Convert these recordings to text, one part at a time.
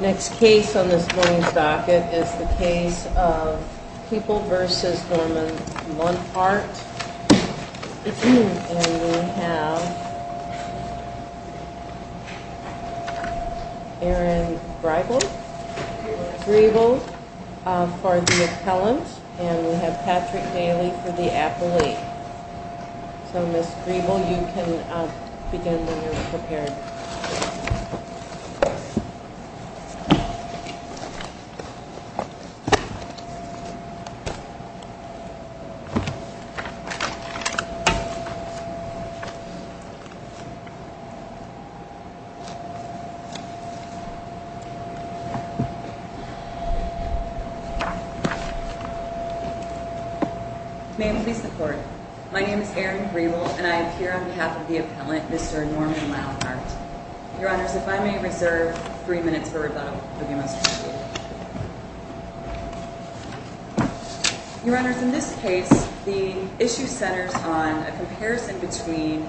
Next case on this morning's docket is the case of People v. Norman Launhardt. And we have Aaron Grebel for the appellant, and we have Patrick Daly for the appellee. So, Ms. Grebel, you can begin when you're prepared. May it please the Court, my name is Aaron Grebel, and I appear on behalf of the appellant, Mr. Norman Launhardt. Your Honors, if I may reserve three minutes for rebuttal, it would be most appreciated. Your Honors, in this case, the issue centers on a comparison between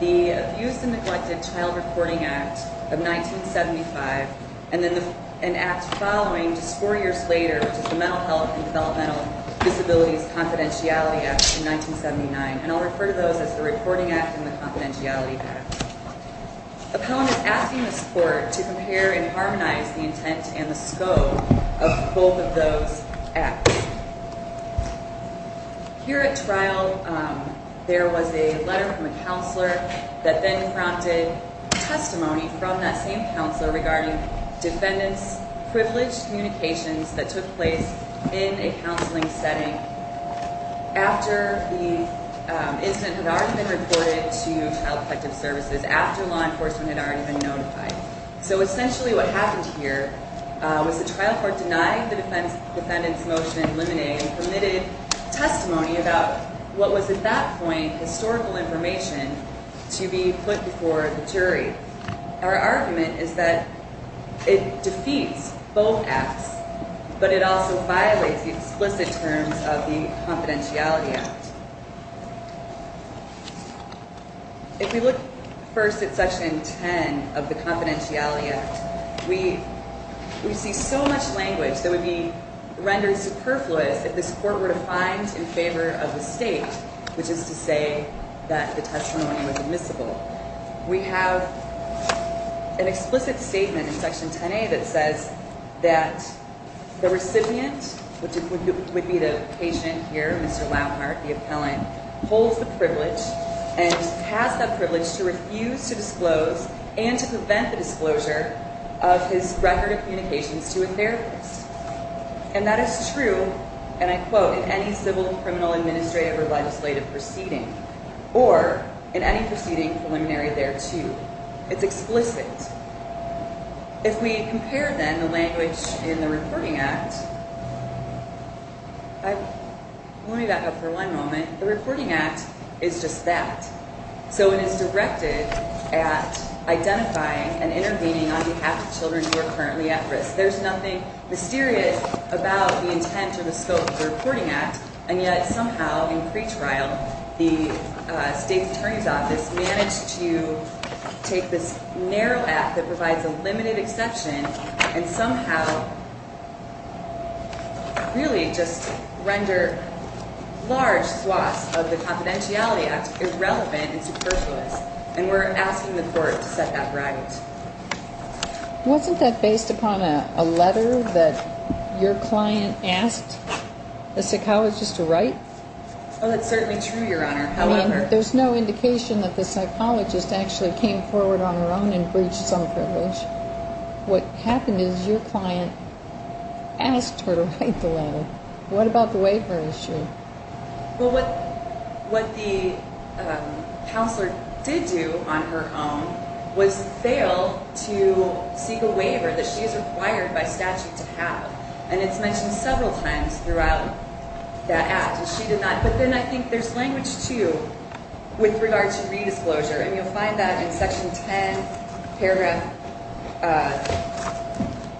the Abuse and Neglected Child Reporting Act of 1975 and an act following just four years later, which is the Mental Health and Developmental Disabilities Confidentiality Act of 1979. And I'll refer to those as the Reporting Act and the Confidentiality Act. The appellant is asking the Court to compare and harmonize the intent and the scope of both of those acts. Here at trial, there was a letter from a counselor that then prompted testimony from that same counselor regarding defendants' privileged communications that took place in a counseling setting after the incident had already been reported to Child Protective Services, after law enforcement had already been notified. So essentially what happened here was the trial court denied the defendant's motion in limine and permitted testimony about what was at that point historical information to be put before the jury. Our argument is that it defeats both acts, but it also violates the explicit terms of the Confidentiality Act. If we look first at Section 10 of the Confidentiality Act, we see so much language that would be rendered superfluous if this Court were to find in favor of the State, which is to say that the testimony was admissible. We have an explicit statement in Section 10A that says that the recipient, which would be the patient here, Mr. Lampart, the appellant, holds the privilege and has the privilege to refuse to disclose and to prevent the disclosure of his record of communications to a therapist. And that is true, and I quote, in any civil, criminal, administrative, or legislative proceeding, or in any proceeding preliminary thereto. It's explicit. If we compare then the language in the Reporting Act, let me back up for one moment. The Reporting Act is just that. So it is directed at identifying and intervening on behalf of children who are currently at risk. There's nothing mysterious about the intent or the scope of the Reporting Act, and yet somehow, in pretrial, the State Attorney's Office managed to take this narrow act that provides a limited exception and somehow really just render large swaths of the Confidentiality Act irrelevant and superfluous. And we're asking the Court to set that right. Wasn't that based upon a letter that your client asked the psychologist to write? Oh, that's certainly true, Your Honor. However... I mean, there's no indication that the psychologist actually came forward on her own and breached some privilege. What happened is your client asked her to write the letter. What about the waiver issue? Well, what the counselor did do on her own was fail to seek a waiver that she is required by statute to have. And it's mentioned several times throughout that act. But then I think there's language, too, with regard to re-disclosure. And you'll find that in Section 10, Paragraph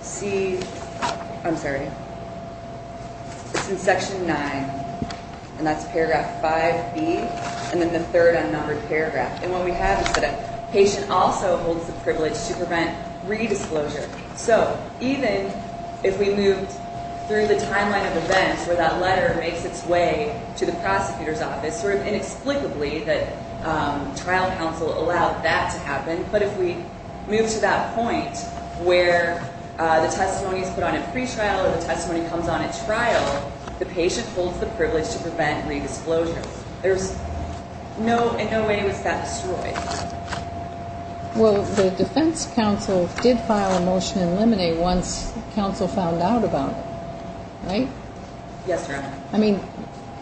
C... I'm sorry. It's in Section 9, and that's Paragraph 5B, and then the third unnumbered paragraph. And what we have is that a patient also holds the privilege to prevent re-disclosure. So, even if we moved through the timeline of events where that letter makes its way to the prosecutor's office, sort of inexplicably that trial counsel allowed that to happen. But if we move to that point where the testimony is put on at pretrial or the testimony comes on at trial, the patient holds the privilege to prevent re-disclosure. There's no way it was that destroyed. Well, the defense counsel did file a motion in limine once counsel found out about it. Right? Yes, Your Honor. I mean,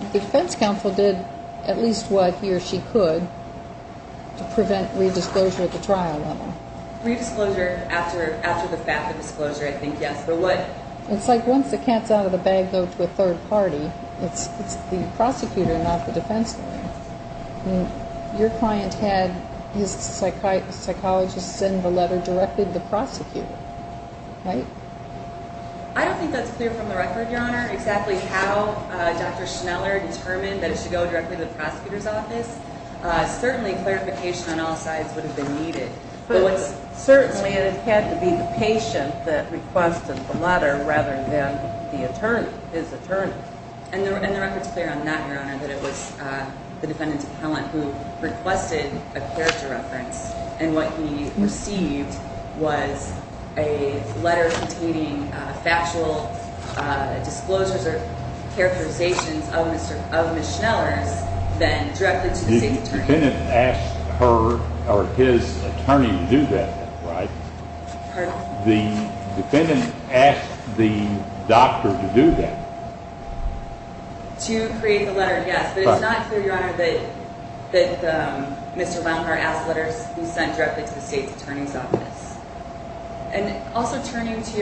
the defense counsel did at least what he or she could to prevent re-disclosure at the trial level. Re-disclosure after the fact, the disclosure, I think, yes. But what... It's like once the cats out of the bag go to a third party, it's the prosecutor, not the defense lawyer. I mean, your client had his psychologist send the letter directly to the prosecutor. Right? I don't think that's clear from the record, Your Honor, exactly how Dr. Schneller determined that it should go directly to the prosecutor's office. Certainly, clarification on all sides would have been needed. Certainly, it had to be the patient that requested the letter rather than the attorney, his attorney. And the record's clear on that, Your Honor, that it was the defendant's appellant who requested a character reference. And what he received was a letter containing factual disclosures or characterizations of Ms. Schneller's, then directed to the state attorney. The defendant asked her or his attorney to do that, right? Pardon? The defendant asked the doctor to do that. To create the letter, yes. But it's not clear, Your Honor, that Mr. Leungar asked letters sent directly to the state attorney's office. And also turning to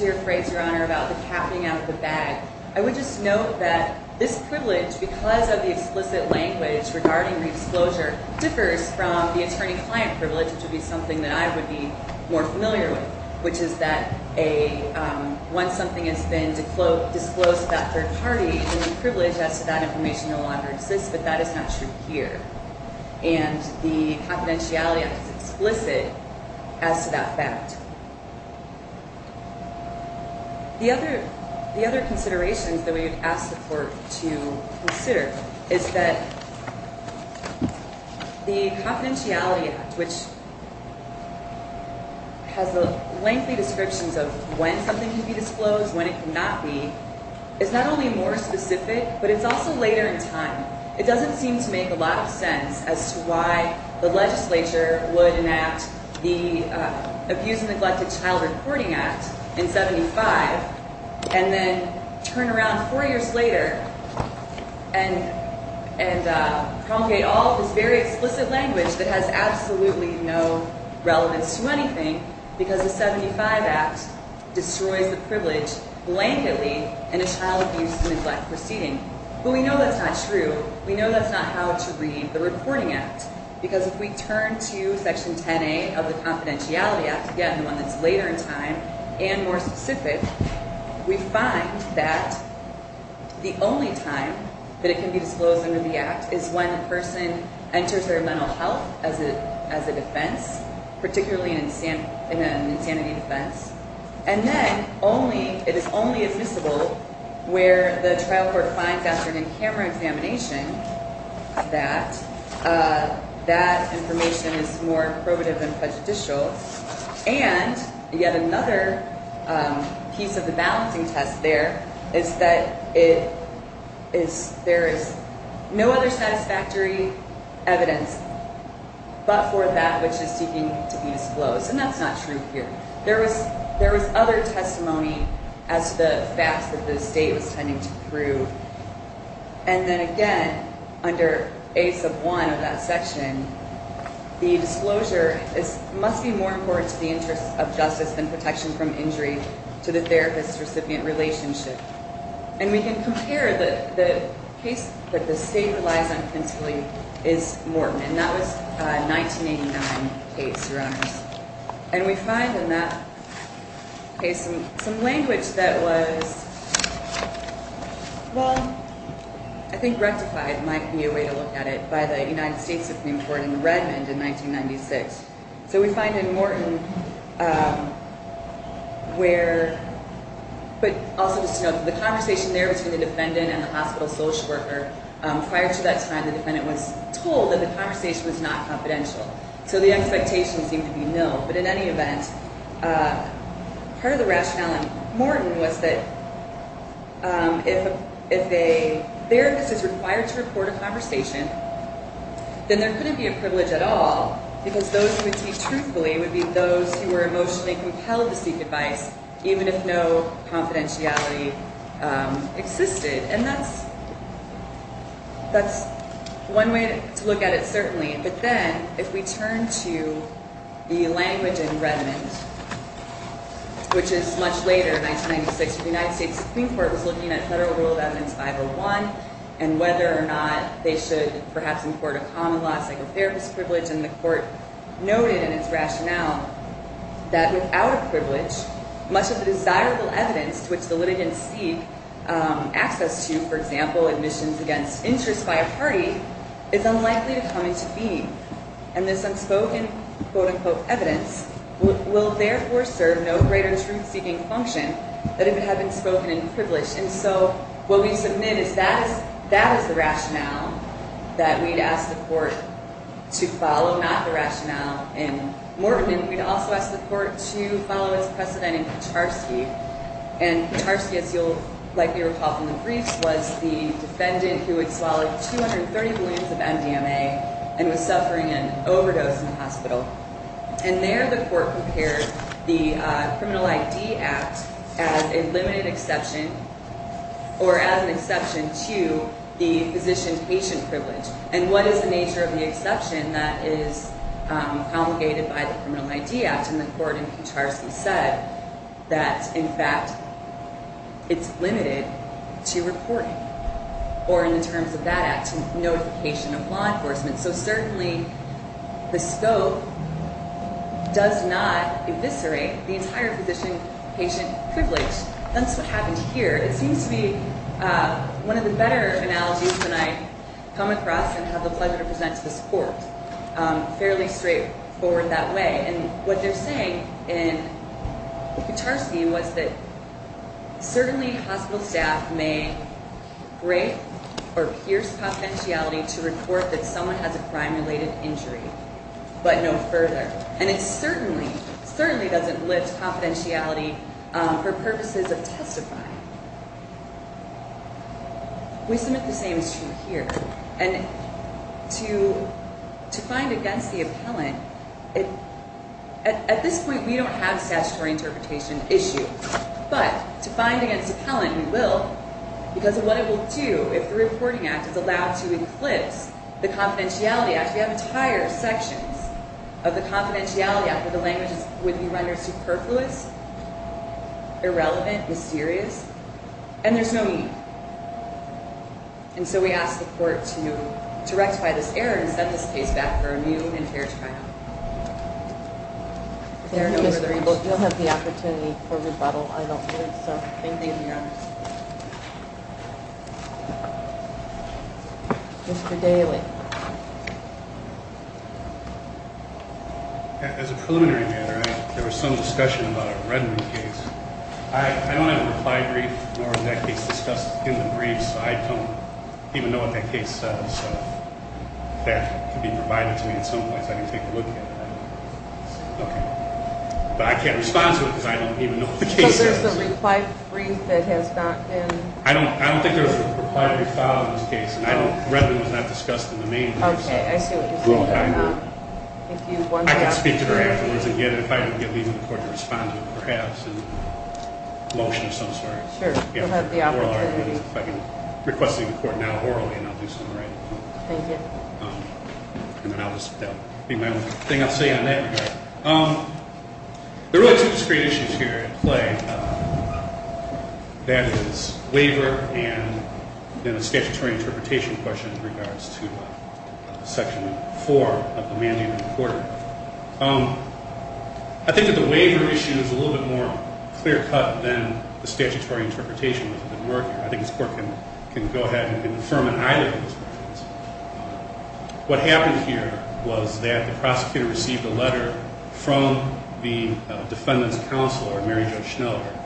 your phrase, Your Honor, about the cat being out of the bag, I would just note that this privilege, because of the explicit language regarding redisclosure, differs from the attorney-client privilege, which would be something that I would be more familiar with, which is that once something has been disclosed to that third party, then the privilege as to that information no longer exists, but that is not true here. And the Confidentiality Act is explicit as to that fact. The other considerations that we would ask the Court to consider is that the Confidentiality Act, which has the lengthy descriptions of when something can be disclosed, when it cannot be, is not only more specific, but it's also later in time. It doesn't seem to make a lot of sense as to why the legislature would enact the Abuse and Neglected Child Reporting Act in 75 and then turn around four years later and promulgate all of this very explicit language that has absolutely no relevance to anything because the 75 Act destroys the privilege blanketly in a child abuse and neglect proceeding. But we know that's not true. We know that's not how to read the Reporting Act, because if we turn to Section 10A of the Confidentiality Act, again, the one that's later in time and more specific, we find that the only time that it can be disclosed under the Act is when a person enters their mental health as a defense, particularly in an insanity defense. And then it is only admissible where the trial court finds after an in-camera examination that that information is more probative than prejudicial. And yet another piece of the balancing test there is that there is no other satisfactory evidence but for that which is seeking to be disclosed, and that's not true here. There was other testimony as to the facts that the state was tending to prove. And then again, under A1 of that section, the disclosure must be more important to the interest of justice than protection from injury to the therapist-recipient relationship. And we can compare the case that the state relies on principally is Morton, and that was a 1989 case, Your Honors. And we find in that case some language that was, well, I think rectified might be a way to look at it, by the United States Supreme Court in Redmond in 1996. So we find in Morton where, but also just to note, the conversation there between the defendant and the hospital social worker, prior to that time the defendant was told that the conversation was not confidential. So the expectation seemed to be no, but in any event, part of the rationale in Morton was that if a therapist is required to report a conversation, then there couldn't be a privilege at all because those who would speak truthfully would be those who were emotionally compelled to speak advice, even if no confidentiality existed. And that's one way to look at it, certainly. But then if we turn to the language in Redmond, which is much later, 1996, the United States Supreme Court was looking at Federal Rule of Evidence 501 and whether or not they should perhaps import a common law psychotherapist privilege. And the court noted in its rationale that without a privilege, much of the desirable evidence to which the litigants seek access to, for example, admissions against interest by a party, is unlikely to come into being. And this unspoken, quote-unquote, evidence will therefore serve no greater truth-seeking function than if it had been spoken in privilege. And so what we submit is that is the rationale that we'd ask the court to follow, not the rationale in Morton. And we'd also ask the court to follow its precedent in Kucharski. And Kucharski, as you'll likely recall from the briefs, was the defendant who had swallowed 230 balloons of MDMA and was suffering an overdose in the hospital. And there the court prepared the Criminal ID Act as a limited exception or as an exception to the physician-patient privilege. And what is the nature of the exception that is promulgated by the Criminal ID Act? And the court in Kucharski said that, in fact, it's limited to reporting or, in the terms of that act, notification of law enforcement. So certainly the scope does not eviscerate the entire physician-patient privilege. That's what happened here. It seems to be one of the better analogies that I've come across and have the pleasure to present to this court, fairly straightforward that way. And what they're saying in Kucharski was that certainly hospital staff may break or pierce confidentiality to report that someone has a crime-related injury, but no further. And it certainly doesn't lift confidentiality for purposes of testifying. We submit the same is true here. And to find against the appellant, at this point, we don't have a statutory interpretation issue. But to find against the appellant, we will, because of what it will do, if the Reporting Act is allowed to eclipse the Confidentiality Act. We have entire sections of the Confidentiality Act where the language would be rendered superfluous, irrelevant, mysterious, and there's no need. And so we ask the court to rectify this error and set this case back for a new and fair trial. Thank you, Mr. Greenblatt. You'll have the opportunity for rebuttal, I don't think, so thank you. Thank you, Your Honor. Mr. Daly. As a preliminary matter, there was some discussion about a Redmond case. I don't have a reply brief, nor is that case discussed in the brief, so I don't even know what that case says. If that could be provided to me at some point so I can take a look at it, I don't know. Okay. But I can't respond to it because I don't even know what the case says. So there's a reply brief that has not been- I don't think there's a reply brief file in this case. Redmond was not discussed in the main brief, so- Okay, I see what you're saying. I can speak to her afterwards, and if I can get the court to respond to it, perhaps, in a motion of some sort. Sure, you'll have the opportunity. If I can request the court now orally, and I'll do so in writing. Go for it. And then that'll be my only thing I'll say in that regard. There are really two discrete issues here at play. That is, waiver and then a statutory interpretation question in regards to Section 4 of the Mandate of the Court. I think that the waiver issue is a little bit more clear-cut than the statutory interpretation was a bit murkier. I think this court can go ahead and confirm an either of those. What happened here was that the prosecutor received a letter from the defendant's counselor, Mary Jo Schneller.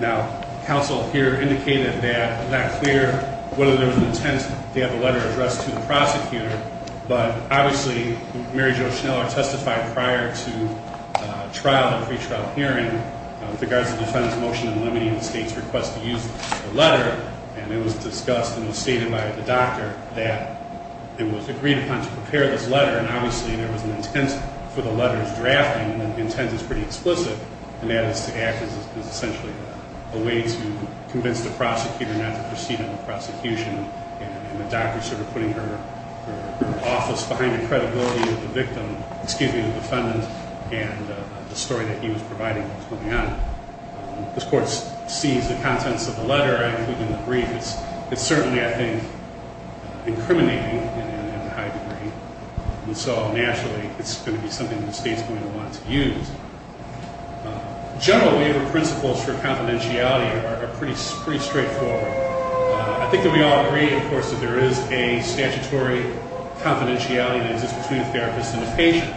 Now, counsel here indicated that it's not clear whether there was an intent to have the letter addressed to the prosecutor. But, obviously, Mary Jo Schneller testified prior to trial, the pre-trial hearing, with regards to the defendant's motion in limiting the state's request to use the letter. And it was discussed and it was stated by the doctor that it was agreed upon to prepare this letter. And, obviously, there was an intent for the letter's drafting. And the intent is pretty explicit, and that is to act as essentially a way to convince the prosecutor not to proceed in the prosecution. And the doctor sort of putting her office behind the credibility of the victim, excuse me, the defendant, and the story that he was providing that was going on. This court sees the contents of the letter, including the brief. It's certainly, I think, incriminating in a high degree. And so, naturally, it's going to be something the state's going to want to use. General waiver principles for confidentiality are pretty straightforward. I think that we all agree, of course, that there is a statutory confidentiality that exists between a therapist and a patient.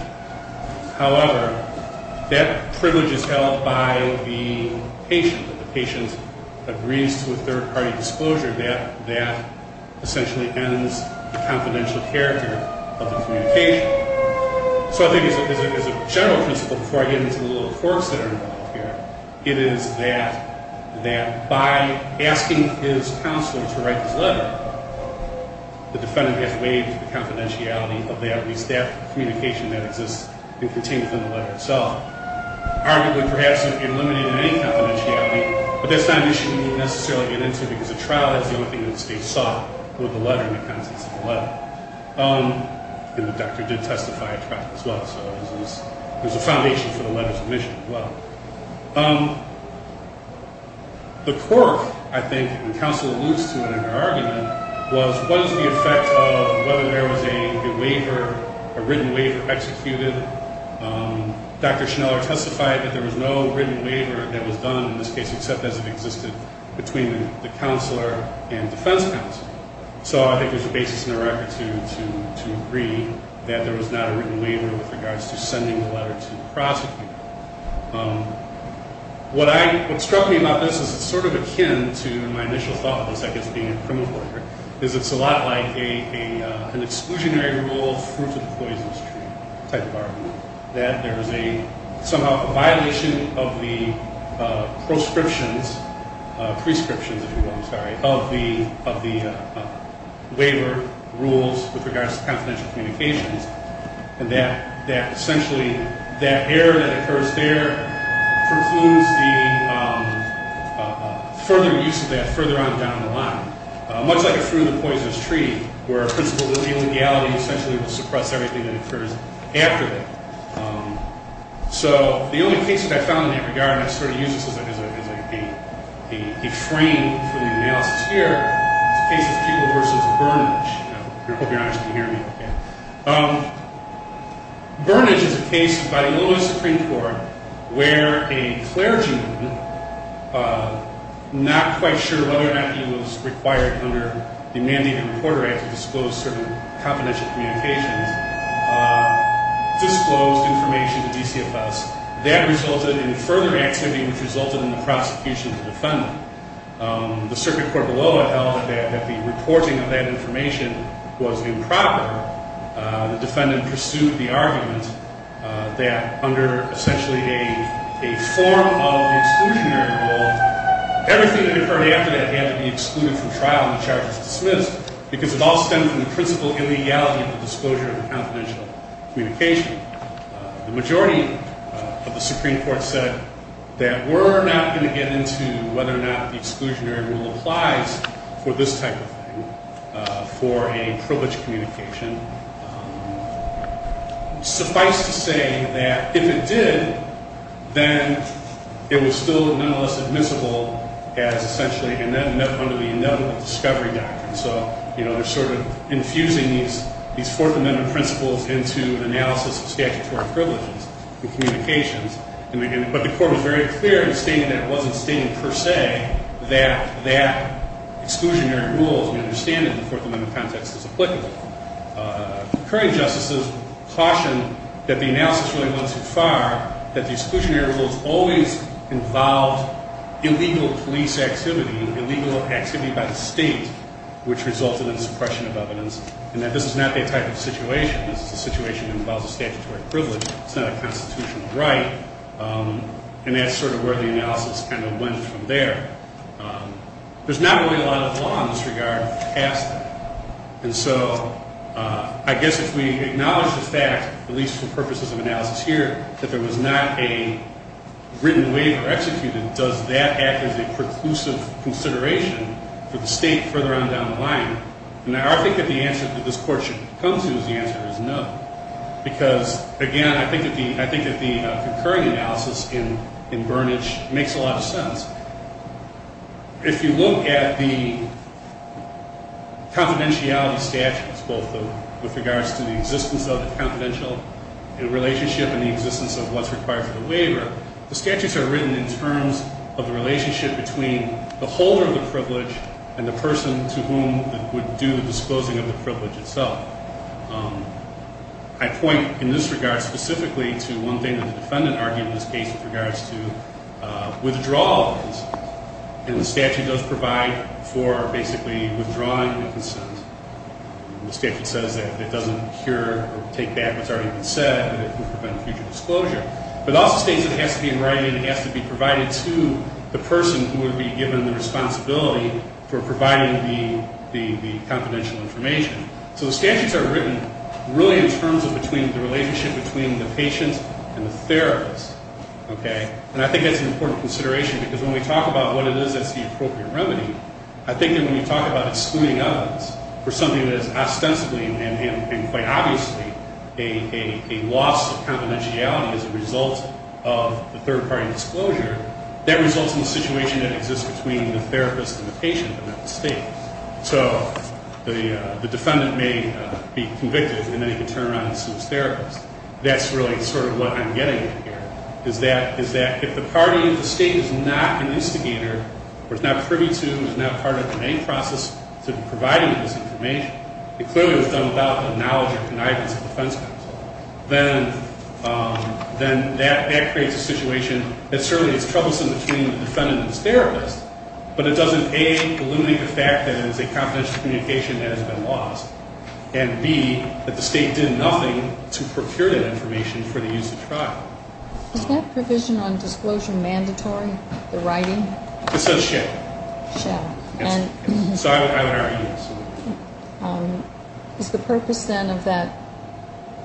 However, that privilege is held by the patient. If the patient agrees to a third-party disclosure, that essentially ends the confidential character of the communication. So I think as a general principle, before I get into the little quirks that are involved here, it is that by asking his counselor to write this letter, the defendant has waived the confidentiality of every staff communication that exists and contains in the letter itself. Arguably, perhaps, it would be eliminated any confidentiality, but that's not an issue we necessarily get into, because a trial is the only thing that the state sought with the letter and the contents of the letter. And the doctor did testify at trial as well, so there's a foundation for the letter's omission as well. The quirk, I think, and counsel alludes to it in our argument, was what is the effect of whether there was a waiver, a written waiver, executed. Dr. Schneller testified that there was no written waiver that was done in this case, except as it existed between the counselor and defense counsel. So I think there's a basis in our attitude to agree that there was not a written waiver with regards to sending the letter to the prosecutor. What struck me about this is it's sort of akin to my initial thought of this, I guess, being a criminal lawyer, is it's a lot like an exclusionary rule, fruit of the poisonous tree type of argument, that there is somehow a violation of the prescriptions of the waiver rules with regards to confidential communications, and that essentially that error that occurs there precludes the further use of that further on down the line, much like a fruit of the poisonous tree, where a principle of illegality essentially will suppress everything that occurs after that. So the only case that I found in that regard, and I sort of use this as a frame for the analysis here, is the case of Keeble v. Burnidge. I hope you're not just going to hear me. Burnidge is a case by the Illinois Supreme Court where a clergyman, not quite sure whether or not he was required under the Mandated Reporter Act to disclose certain confidential communications, disclosed information to DCFS. That resulted in further activity, which resulted in the prosecution of the defendant. The circuit court below it held that the reporting of that information was improper. The defendant pursued the argument that under essentially a form of exclusionary rule, everything that occurred after that had to be excluded from trial and the charges dismissed, because it all stemmed from the principle of illegality of the disclosure of confidential communication. The majority of the Supreme Court said that we're not going to get into whether or not the exclusionary rule applies for this type of thing, for a privileged communication. Suffice to say that if it did, then it was still nonetheless admissible as essentially, and then under the Ineligible Discovery Doctrine. So they're sort of infusing these Fourth Amendment principles into analysis of statutory privileges and communications. But the court was very clear in stating that it wasn't stating per se that that exclusionary rule, as we understand it in the Fourth Amendment context, is applicable. The current justices caution that the analysis really went too far, that the exclusionary rules always involved illegal police activity, illegal activity by the state, which resulted in suppression of evidence, and that this is not their type of situation. This is a situation that involves a statutory privilege. It's not a constitutional right. And that's sort of where the analysis kind of went from there. There's not really a lot of law in this regard past that. And so I guess if we acknowledge the fact, at least for purposes of analysis here, that there was not a written waiver executed, does that act as a preclusive consideration for the state further on down the line? And I think that the answer that this court should come to is the answer is no. Because, again, I think that the concurrent analysis in Burnidge makes a lot of sense. If you look at the confidentiality statutes, both with regards to the existence of the confidential relationship and the existence of what's required for the waiver, the statutes are written in terms of the relationship between the holder of the privilege and the person to whom would do the disclosing of the privilege itself. I point in this regard specifically to one thing that the defendant argued in this case with regards to withdrawal of the consent. And the statute does provide for basically withdrawing the consent. The statute says that it doesn't cure or take back what's already been said, and it would prevent future disclosure. But it also states that it has to be provided to the person who would be given the responsibility for providing the confidential information. So the statutes are written really in terms of the relationship between the patient and the therapist. And I think that's an important consideration, because when we talk about what it is that's the appropriate remedy, I think that when you talk about excluding others for something that is ostensibly and quite obviously a loss of confidentiality as a result of the third-party disclosure, that results in a situation that exists between the therapist and the patient. So the defendant may be convicted, and then he can turn around and assume it's the therapist. That's really sort of what I'm getting at here, is that if the state is not an instigator, or is not privy to, is not part of the main process to providing this information, it clearly was done without the knowledge or connivance of defense counsel, then that creates a situation that certainly is troublesome between the defendant and the therapist, but it doesn't, A, eliminate the fact that it is a confidential communication that has been lost, and, B, that the state did nothing to procure that information for the use of trial. Is that provision on disclosure mandatory, the writing? It says, shall. Shall. And so I would argue, yes. Is the purpose, then, of that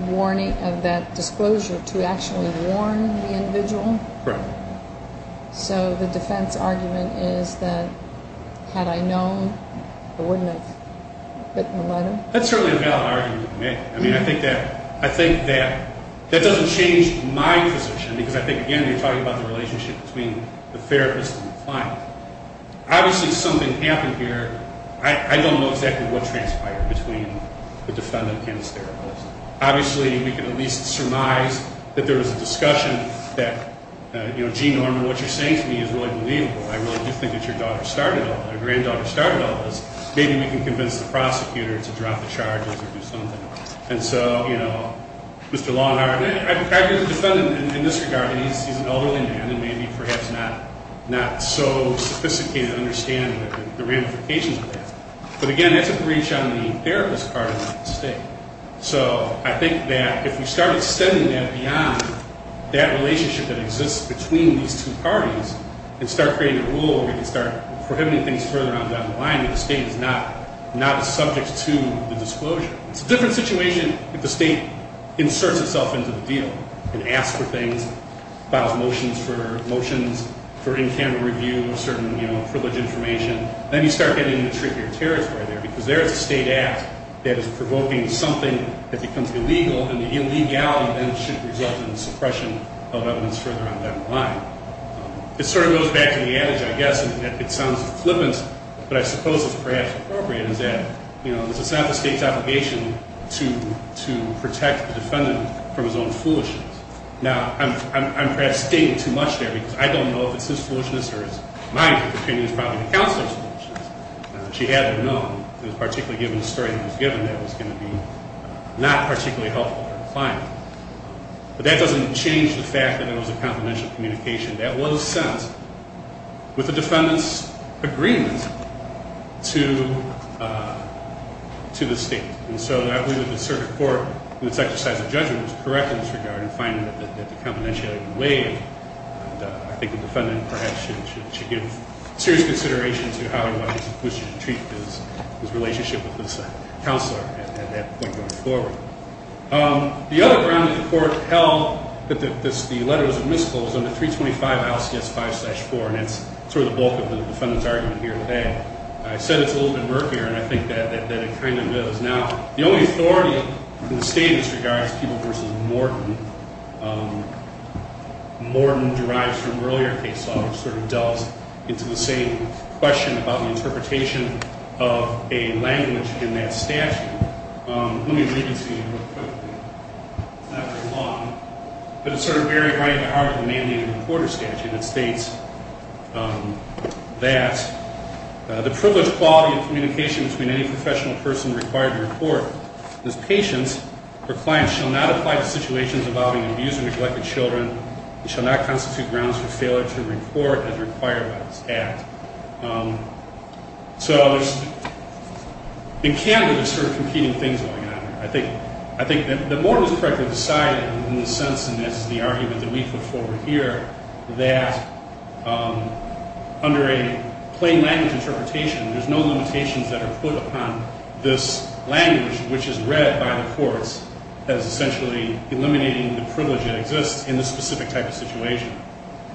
warning, of that disclosure, to actually warn the individual? Correct. So the defense argument is that had I known, I wouldn't have written the letter? That's certainly a valid argument to make. I mean, I think that doesn't change my position, because I think, again, you're talking about the relationship between the therapist and the client. Obviously, something happened here. I don't know exactly what transpired between the defendant and the therapist. Obviously, we can at least surmise that there was a discussion that, you know, gee, Norman, what you're saying to me is really believable. I really do think that your daughter started all this, your granddaughter started all this. Maybe we can convince the prosecutor to drop the charges or do something. And so, you know, Mr. Longhart, I agree with the defendant in this regard. He's an elderly man and maybe perhaps not so sophisticated in understanding the ramifications of that. But, again, that's a breach on the therapist's part of the state. So I think that if we start extending that beyond that relationship that exists between these two parties and start creating a rule where we can start prohibiting things further on down the line, that the state is not subject to the disclosure. It's a different situation if the state inserts itself into the deal and asks for things, files motions for motions for in-camera review of certain, you know, privilege information. Then you start getting into trickier territory there because there is a state act that is provoking something that becomes illegal and the illegality then should result in suppression of evidence further on down the line. It sort of goes back to the adage, I guess, and it sounds flippant, but I suppose it's perhaps appropriate, is that, you know, it's not the state's obligation to protect the defendant from his own foolishness. Now, I'm perhaps stating too much there because I don't know if it's his foolishness or it's my opinion it's probably the counselor's foolishness. She had to have known, particularly given the story that was given, that it was going to be not particularly helpful to her client. But that doesn't change the fact that there was a confidential communication. That was sent with the defendant's agreement to the state. And so I believe that the circuit court, in its exercise of judgment, was correct in this regard in finding that the confidentiality was waived. I think the defendant perhaps should give serious consideration to how he wishes to treat his relationship with his counselor at that point going forward. The other ground that the court held that the letters of miscall was under 325 ICS 5-4, and that's sort of the bulk of the defendant's argument here today. I said it's a little bit murkier, and I think that it kind of is. Now, the only authority in the state in this regard is People v. Morton. Morton derives from earlier case law, which sort of delves into the same question about the interpretation of a language in that statute. Let me read it to you real quickly. It's not very long, but it's sort of very right at heart of the Mandated Reporter Statute. It states that the privilege, quality, and communication between any professional person required to report this patient or client shall not apply to situations involving abused or neglected children and shall not constitute grounds for failure to report as required by this Act. So in Canada, there's sort of competing things going on here. I think that Morton was correctly decided in the sense, and this is the argument that we put forward here, that under a plain language interpretation, there's no limitations that are put upon this language, which is read by the courts as essentially eliminating the privilege that exists in this specific type of situation.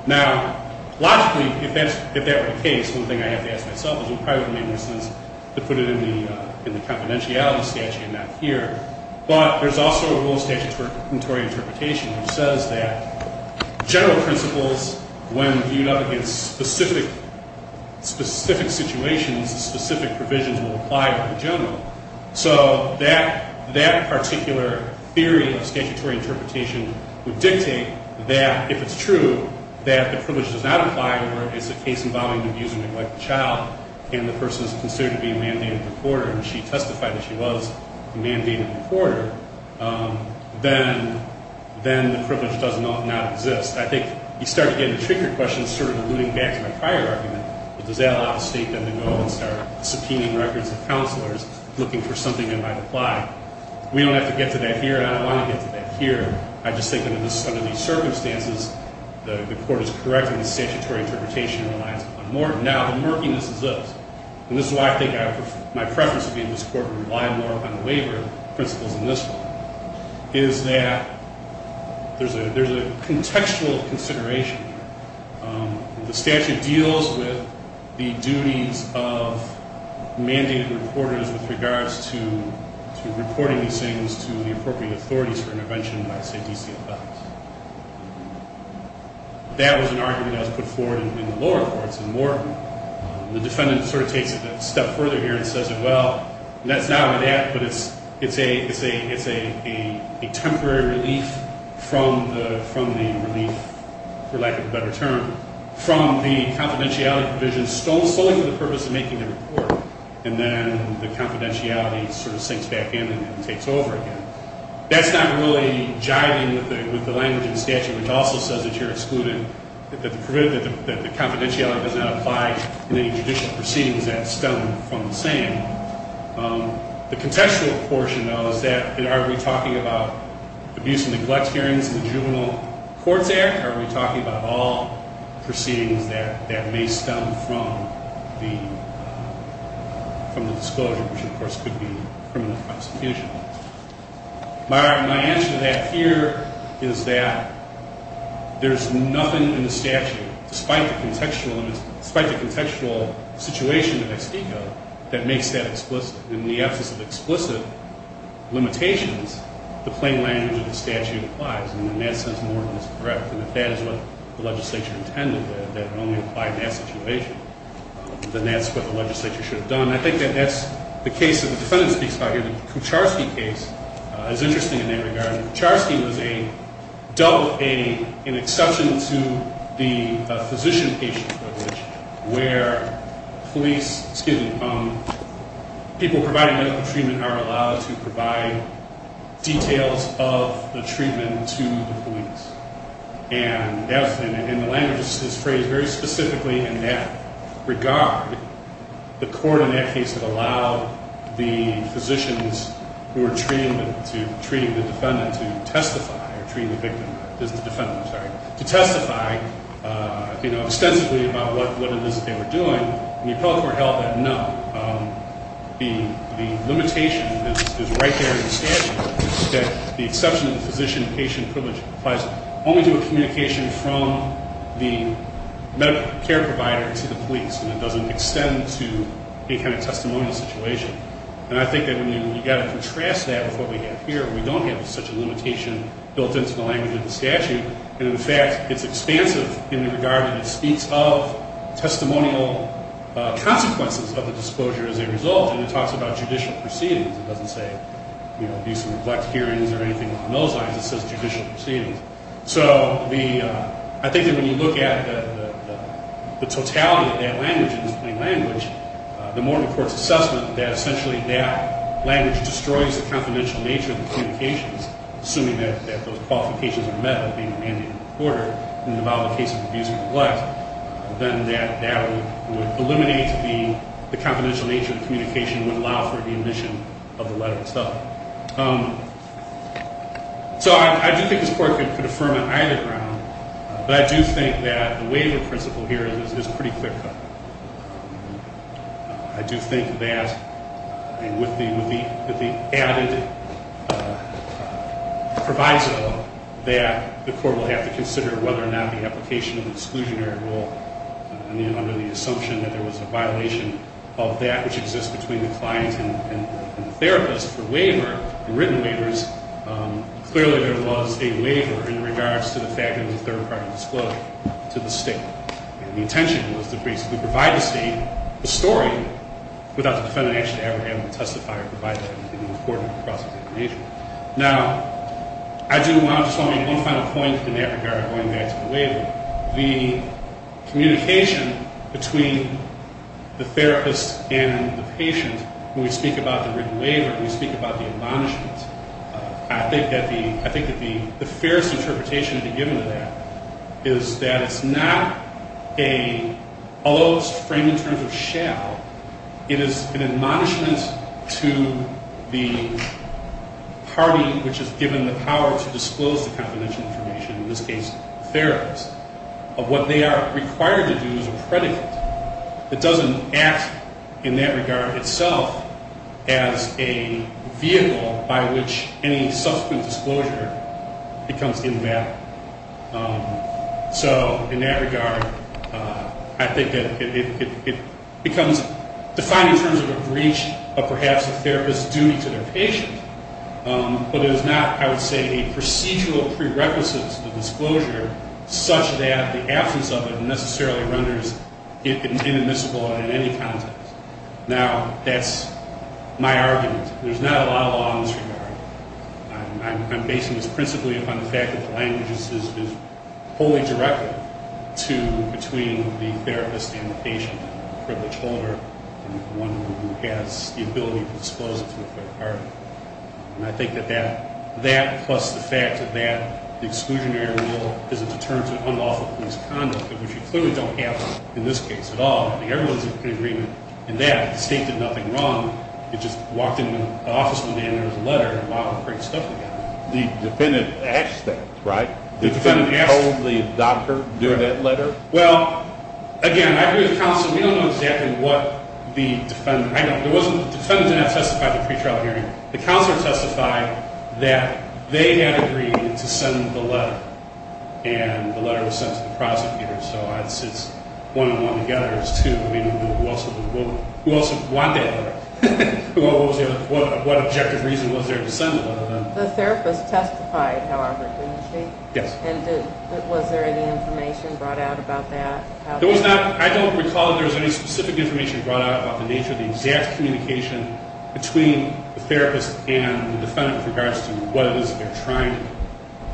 Now, logically, if that were the case, one thing I have to ask myself is, it probably would have made more sense to put it in the confidentiality statute and not here. But there's also a rule of statutory interpretation which says that general principles, when viewed up against specific situations, specific provisions will apply to the general. So that particular theory of statutory interpretation would dictate that, if it's true, that the privilege does not apply where it's a case involving abused or neglected child and the person is considered to be a mandated reporter and she testified that she was a mandated reporter, then the privilege does not exist. I think you start to get into trickier questions, sort of alluding back to my prior argument. Does that allow the State then to go and start subpoenaing records of counselors looking for something that might apply? We don't have to get to that here, and I don't want to get to that here. I just think under these circumstances, the Court is correct in the statutory interpretation relies upon Morton. Now, the murkiness is this, and this is why I think my preference would be in this Court would rely more upon the waiver principles in this one, is that there's a contextual consideration here. The statute deals with the duties of mandated reporters with regards to reporting these things to the appropriate authorities for intervention by, say, DCFLs. That was an argument that was put forward in the lower courts in Morton. The defendant sort of takes it a step further here and says, well, let's not do that, but it's a temporary relief from the relief, for lack of a better term, from the confidentiality provision stolen solely for the purpose of making the report, and then the confidentiality sort of sinks back in and takes over again. That's not really jiving with the language in the statute, which also says that you're excluded, that the confidentiality does not apply in any judicial proceedings that stem from the same. The contextual portion, though, is that are we talking about abuse and neglect hearings in the juvenile courts there, or are we talking about all proceedings that may stem from the disclosure, which, of course, could be criminal prosecution? My answer to that here is that there's nothing in the statute, despite the contextual situation in Mexico, that makes that explicit. In the absence of explicit limitations, the plain language of the statute applies, and in that sense, Morton is correct, and if that is what the legislature intended, that it only applied in that situation, then that's what the legislature should have done. I think that that's the case that the defendant speaks about here. The Kucharski case is interesting in that regard. Kucharski was an exception to the physician-patient privilege, where people providing medical treatment are allowed to provide details of the treatment to the police, and the language is phrased very specifically in that regard. The court in that case would allow the physicians who are treating the defendant to testify extensively about what it is that they were doing, and the appellate court held that, no, the limitation is right there in the statute, that the exception to the physician-patient privilege applies only to a communication from the medical care provider to the police, and it doesn't extend to any kind of testimonial situation. And I think that you've got to contrast that with what we have here. We don't have such a limitation built into the language of the statute, and, in fact, it's expansive in the regard that it speaks of testimonial consequences of the disclosure as a result, and it talks about judicial proceedings. It doesn't say, you know, abuse and neglect hearings or anything along those lines. It says judicial proceedings. So I think that when you look at the totality of that language, this plain language, the more the court's assessment that essentially that language destroys the confidential nature of the communications, assuming that those qualifications are met with the mandate of the reporter, and about the case of abuse and neglect, then that would eliminate the confidential nature of the communication and would allow for the admission of the letter itself. So I do think this court could affirm on either ground, but I do think that the waiver principle here is pretty clear-cut. I do think that with the added proviso that the court will have to consider whether or not the application of the exclusionary rule, under the assumption that there was a violation of that which exists between the client and the therapist, the waiver, the written waivers, clearly there was a waiver in regards to the fact that it was a third-party disclosure to the state. And the intention was to basically provide the state a story without the defendant actually ever having to testify or provide anything to the court across the nation. Now, I do want to make one final point in that regard, going back to the waiver. The communication between the therapist and the patient, when we speak about the written waiver, when we speak about the admonishment, I think that the fairest interpretation to be given to that is that it's not a, although it's framed in terms of shall, it is an admonishment to the party which has given the power to disclose the confidential information, in this case the therapist, of what they are required to do as a predicate. It doesn't act in that regard itself as a vehicle by which any subsequent disclosure becomes in that. So in that regard, I think that it becomes defined in terms of a breach of perhaps the therapist's duty to their patient, but it is not, I would say, a procedural prerequisite to the disclosure, such that the absence of it necessarily renders it inadmissible in any context. Now, that's my argument. There's not a lot of law in this regard. I'm basing this principally upon the fact that the language is wholly directed to, between the therapist and the patient, the privilege holder and the one who has the ability to disclose it to the third party. And I think that that, plus the fact that the exclusionary rule is a deterrent to unlawful police conduct, which you clearly don't have in this case at all. I think everyone's in agreement in that. The state did nothing wrong. It just walked into an office with a letter and brought all the great stuff together. The defendant asked that, right? The defendant asked that. The defendant told the doctor during that letter? Well, again, I agree with counsel. We don't know exactly what the defendant, I know, the defendant did not testify at the pretrial hearing. The counselor testified that they had agreed to send the letter, and the letter was sent to the prosecutor. So it's one and one together. It's two. I mean, who else would want that letter? What objective reason was there to send the letter then? The therapist testified, however, didn't she? Yes. And was there any information brought out about that? There was not. I don't recall that there was any specific information brought out about the nature of the exact communication between the therapist and the defendant with regards to what it is that they're trying to do.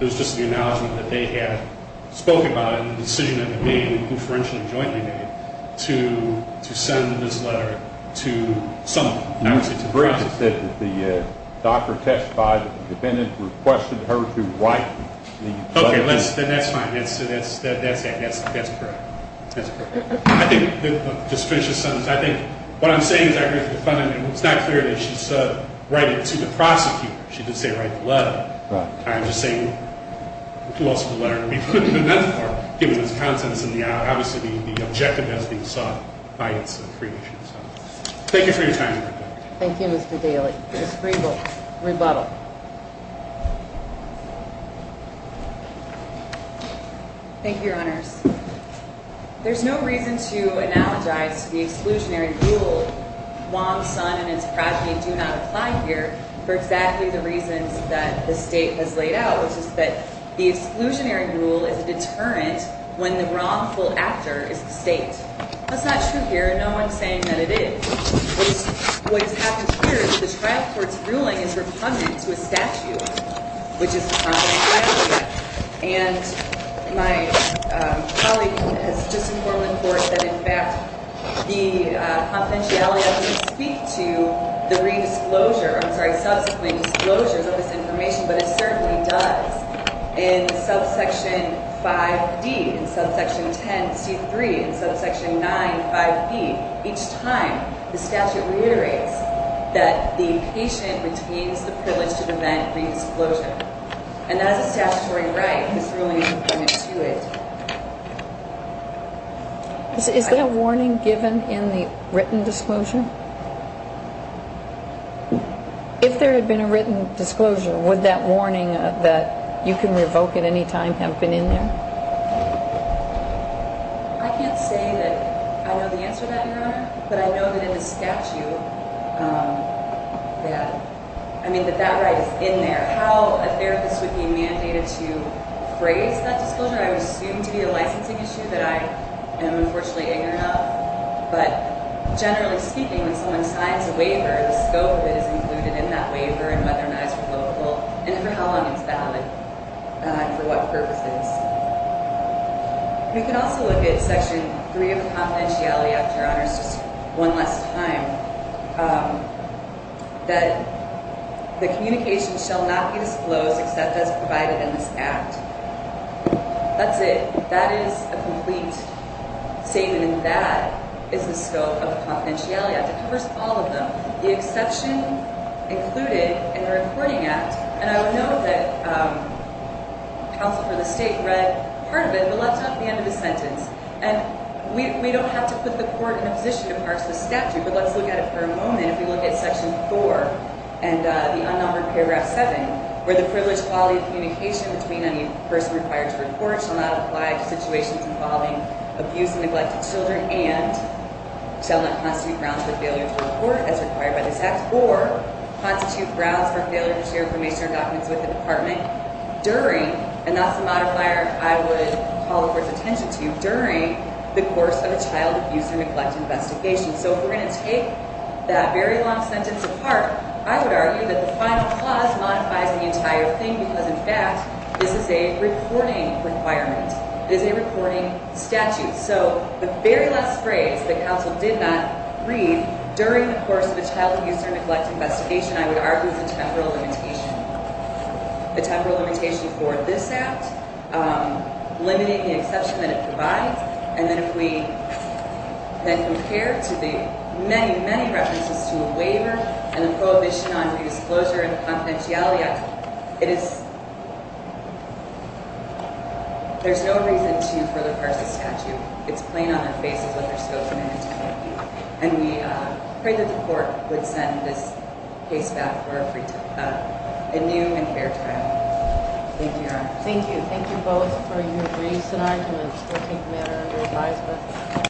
It was just the acknowledgement that they had spoken about it and the decision that they made, and who forensically and jointly made, to send this letter to someone, not necessarily to the prosecutor. Ms. Branson said that the doctor testified that the defendant requested her to wipe the letter. Okay, that's fine. That's correct. I think, just to finish this sentence, I think what I'm saying is I agree with the defendant. It's not clear that she said write it to the prosecutor. She didn't say write the letter. I'm just saying, who else would the letter be for? That's the part. Given this consensus in the aisle, obviously the objective has been sought by its creation. Thank you for your time. Thank you, Mr. Daly. Rebuttal. Thank you, Your Honors. There's no reason to analogize the exclusionary rule, Wong's son and his progeny do not apply here, for exactly the reasons that the state has laid out, which is that the exclusionary rule is a deterrent when the wrongful actor is the state. That's not true here. No one's saying that it is. What has happened here is the trial court's ruling is repugnant to a statute, which is the project title. And my colleague has just informed the court that, in fact, the confidentiality doesn't speak to the re-disclosure, I'm sorry, subsequent disclosures of this information, but it certainly does. In subsection 5D, in subsection 10C3, in subsection 95B, each time the statute reiterates that the patient retains the privilege to prevent re-disclosure. And that is a statutory right whose ruling is repugnant to it. Is there a warning given in the written disclosure? If there had been a written disclosure, would that warning that you can revoke at any time have been in there? I can't say that I know the answer to that, Your Honor, but I know that in the statute that, I mean, that that right is in there. How a therapist would be mandated to phrase that disclosure, I would assume to be a licensing issue that I am unfortunately ignorant of. But generally speaking, when someone signs a waiver, the scope that is included in that waiver and whether or not it's revocable and for how long it's valid and for what purposes. We can also look at section 3 of the confidentiality act, Your Honors, just one last time. That the communication shall not be disclosed except as provided in this act. That's it. That is a complete statement. And that is the scope of the confidentiality act. It covers all of them, the exception included in the recording act. And I would know that counsel for the state read part of it, but left out the end of the sentence. And we don't have to put the court in a position to parse the statute, but let's look at it for a moment. If we look at section 4 and the unnumbered paragraph 7, where the privileged quality of communication between a person required to report shall not apply to situations involving abuse and neglected children and shall not constitute grounds for failure to report as required by this act or constitute grounds for failure to share information or documents with the department during, and that's the modifier I would call the court's attention to, during the course of a child abuse or neglect investigation. So if we're going to take that very long sentence apart, I would argue that the final clause modifies the entire thing because, in fact, this is a reporting requirement. It is a reporting statute. So the very last phrase that counsel did not read during the course of a child abuse or neglect investigation I would argue is a temporal limitation. A temporal limitation for this act, limiting the exception that it provides, and then if we then compare to the many, many references to a waiver and the prohibition on abuse closure and the confidentiality act, it is, there's no reason to further parse the statute. It's plain on their faces what they're still committed to. And we pray that the court would send this case back for a new and fair trial. Thank you, Your Honor. Thank you. Thank you both for your briefs and arguments. We'll take the matter under advisement.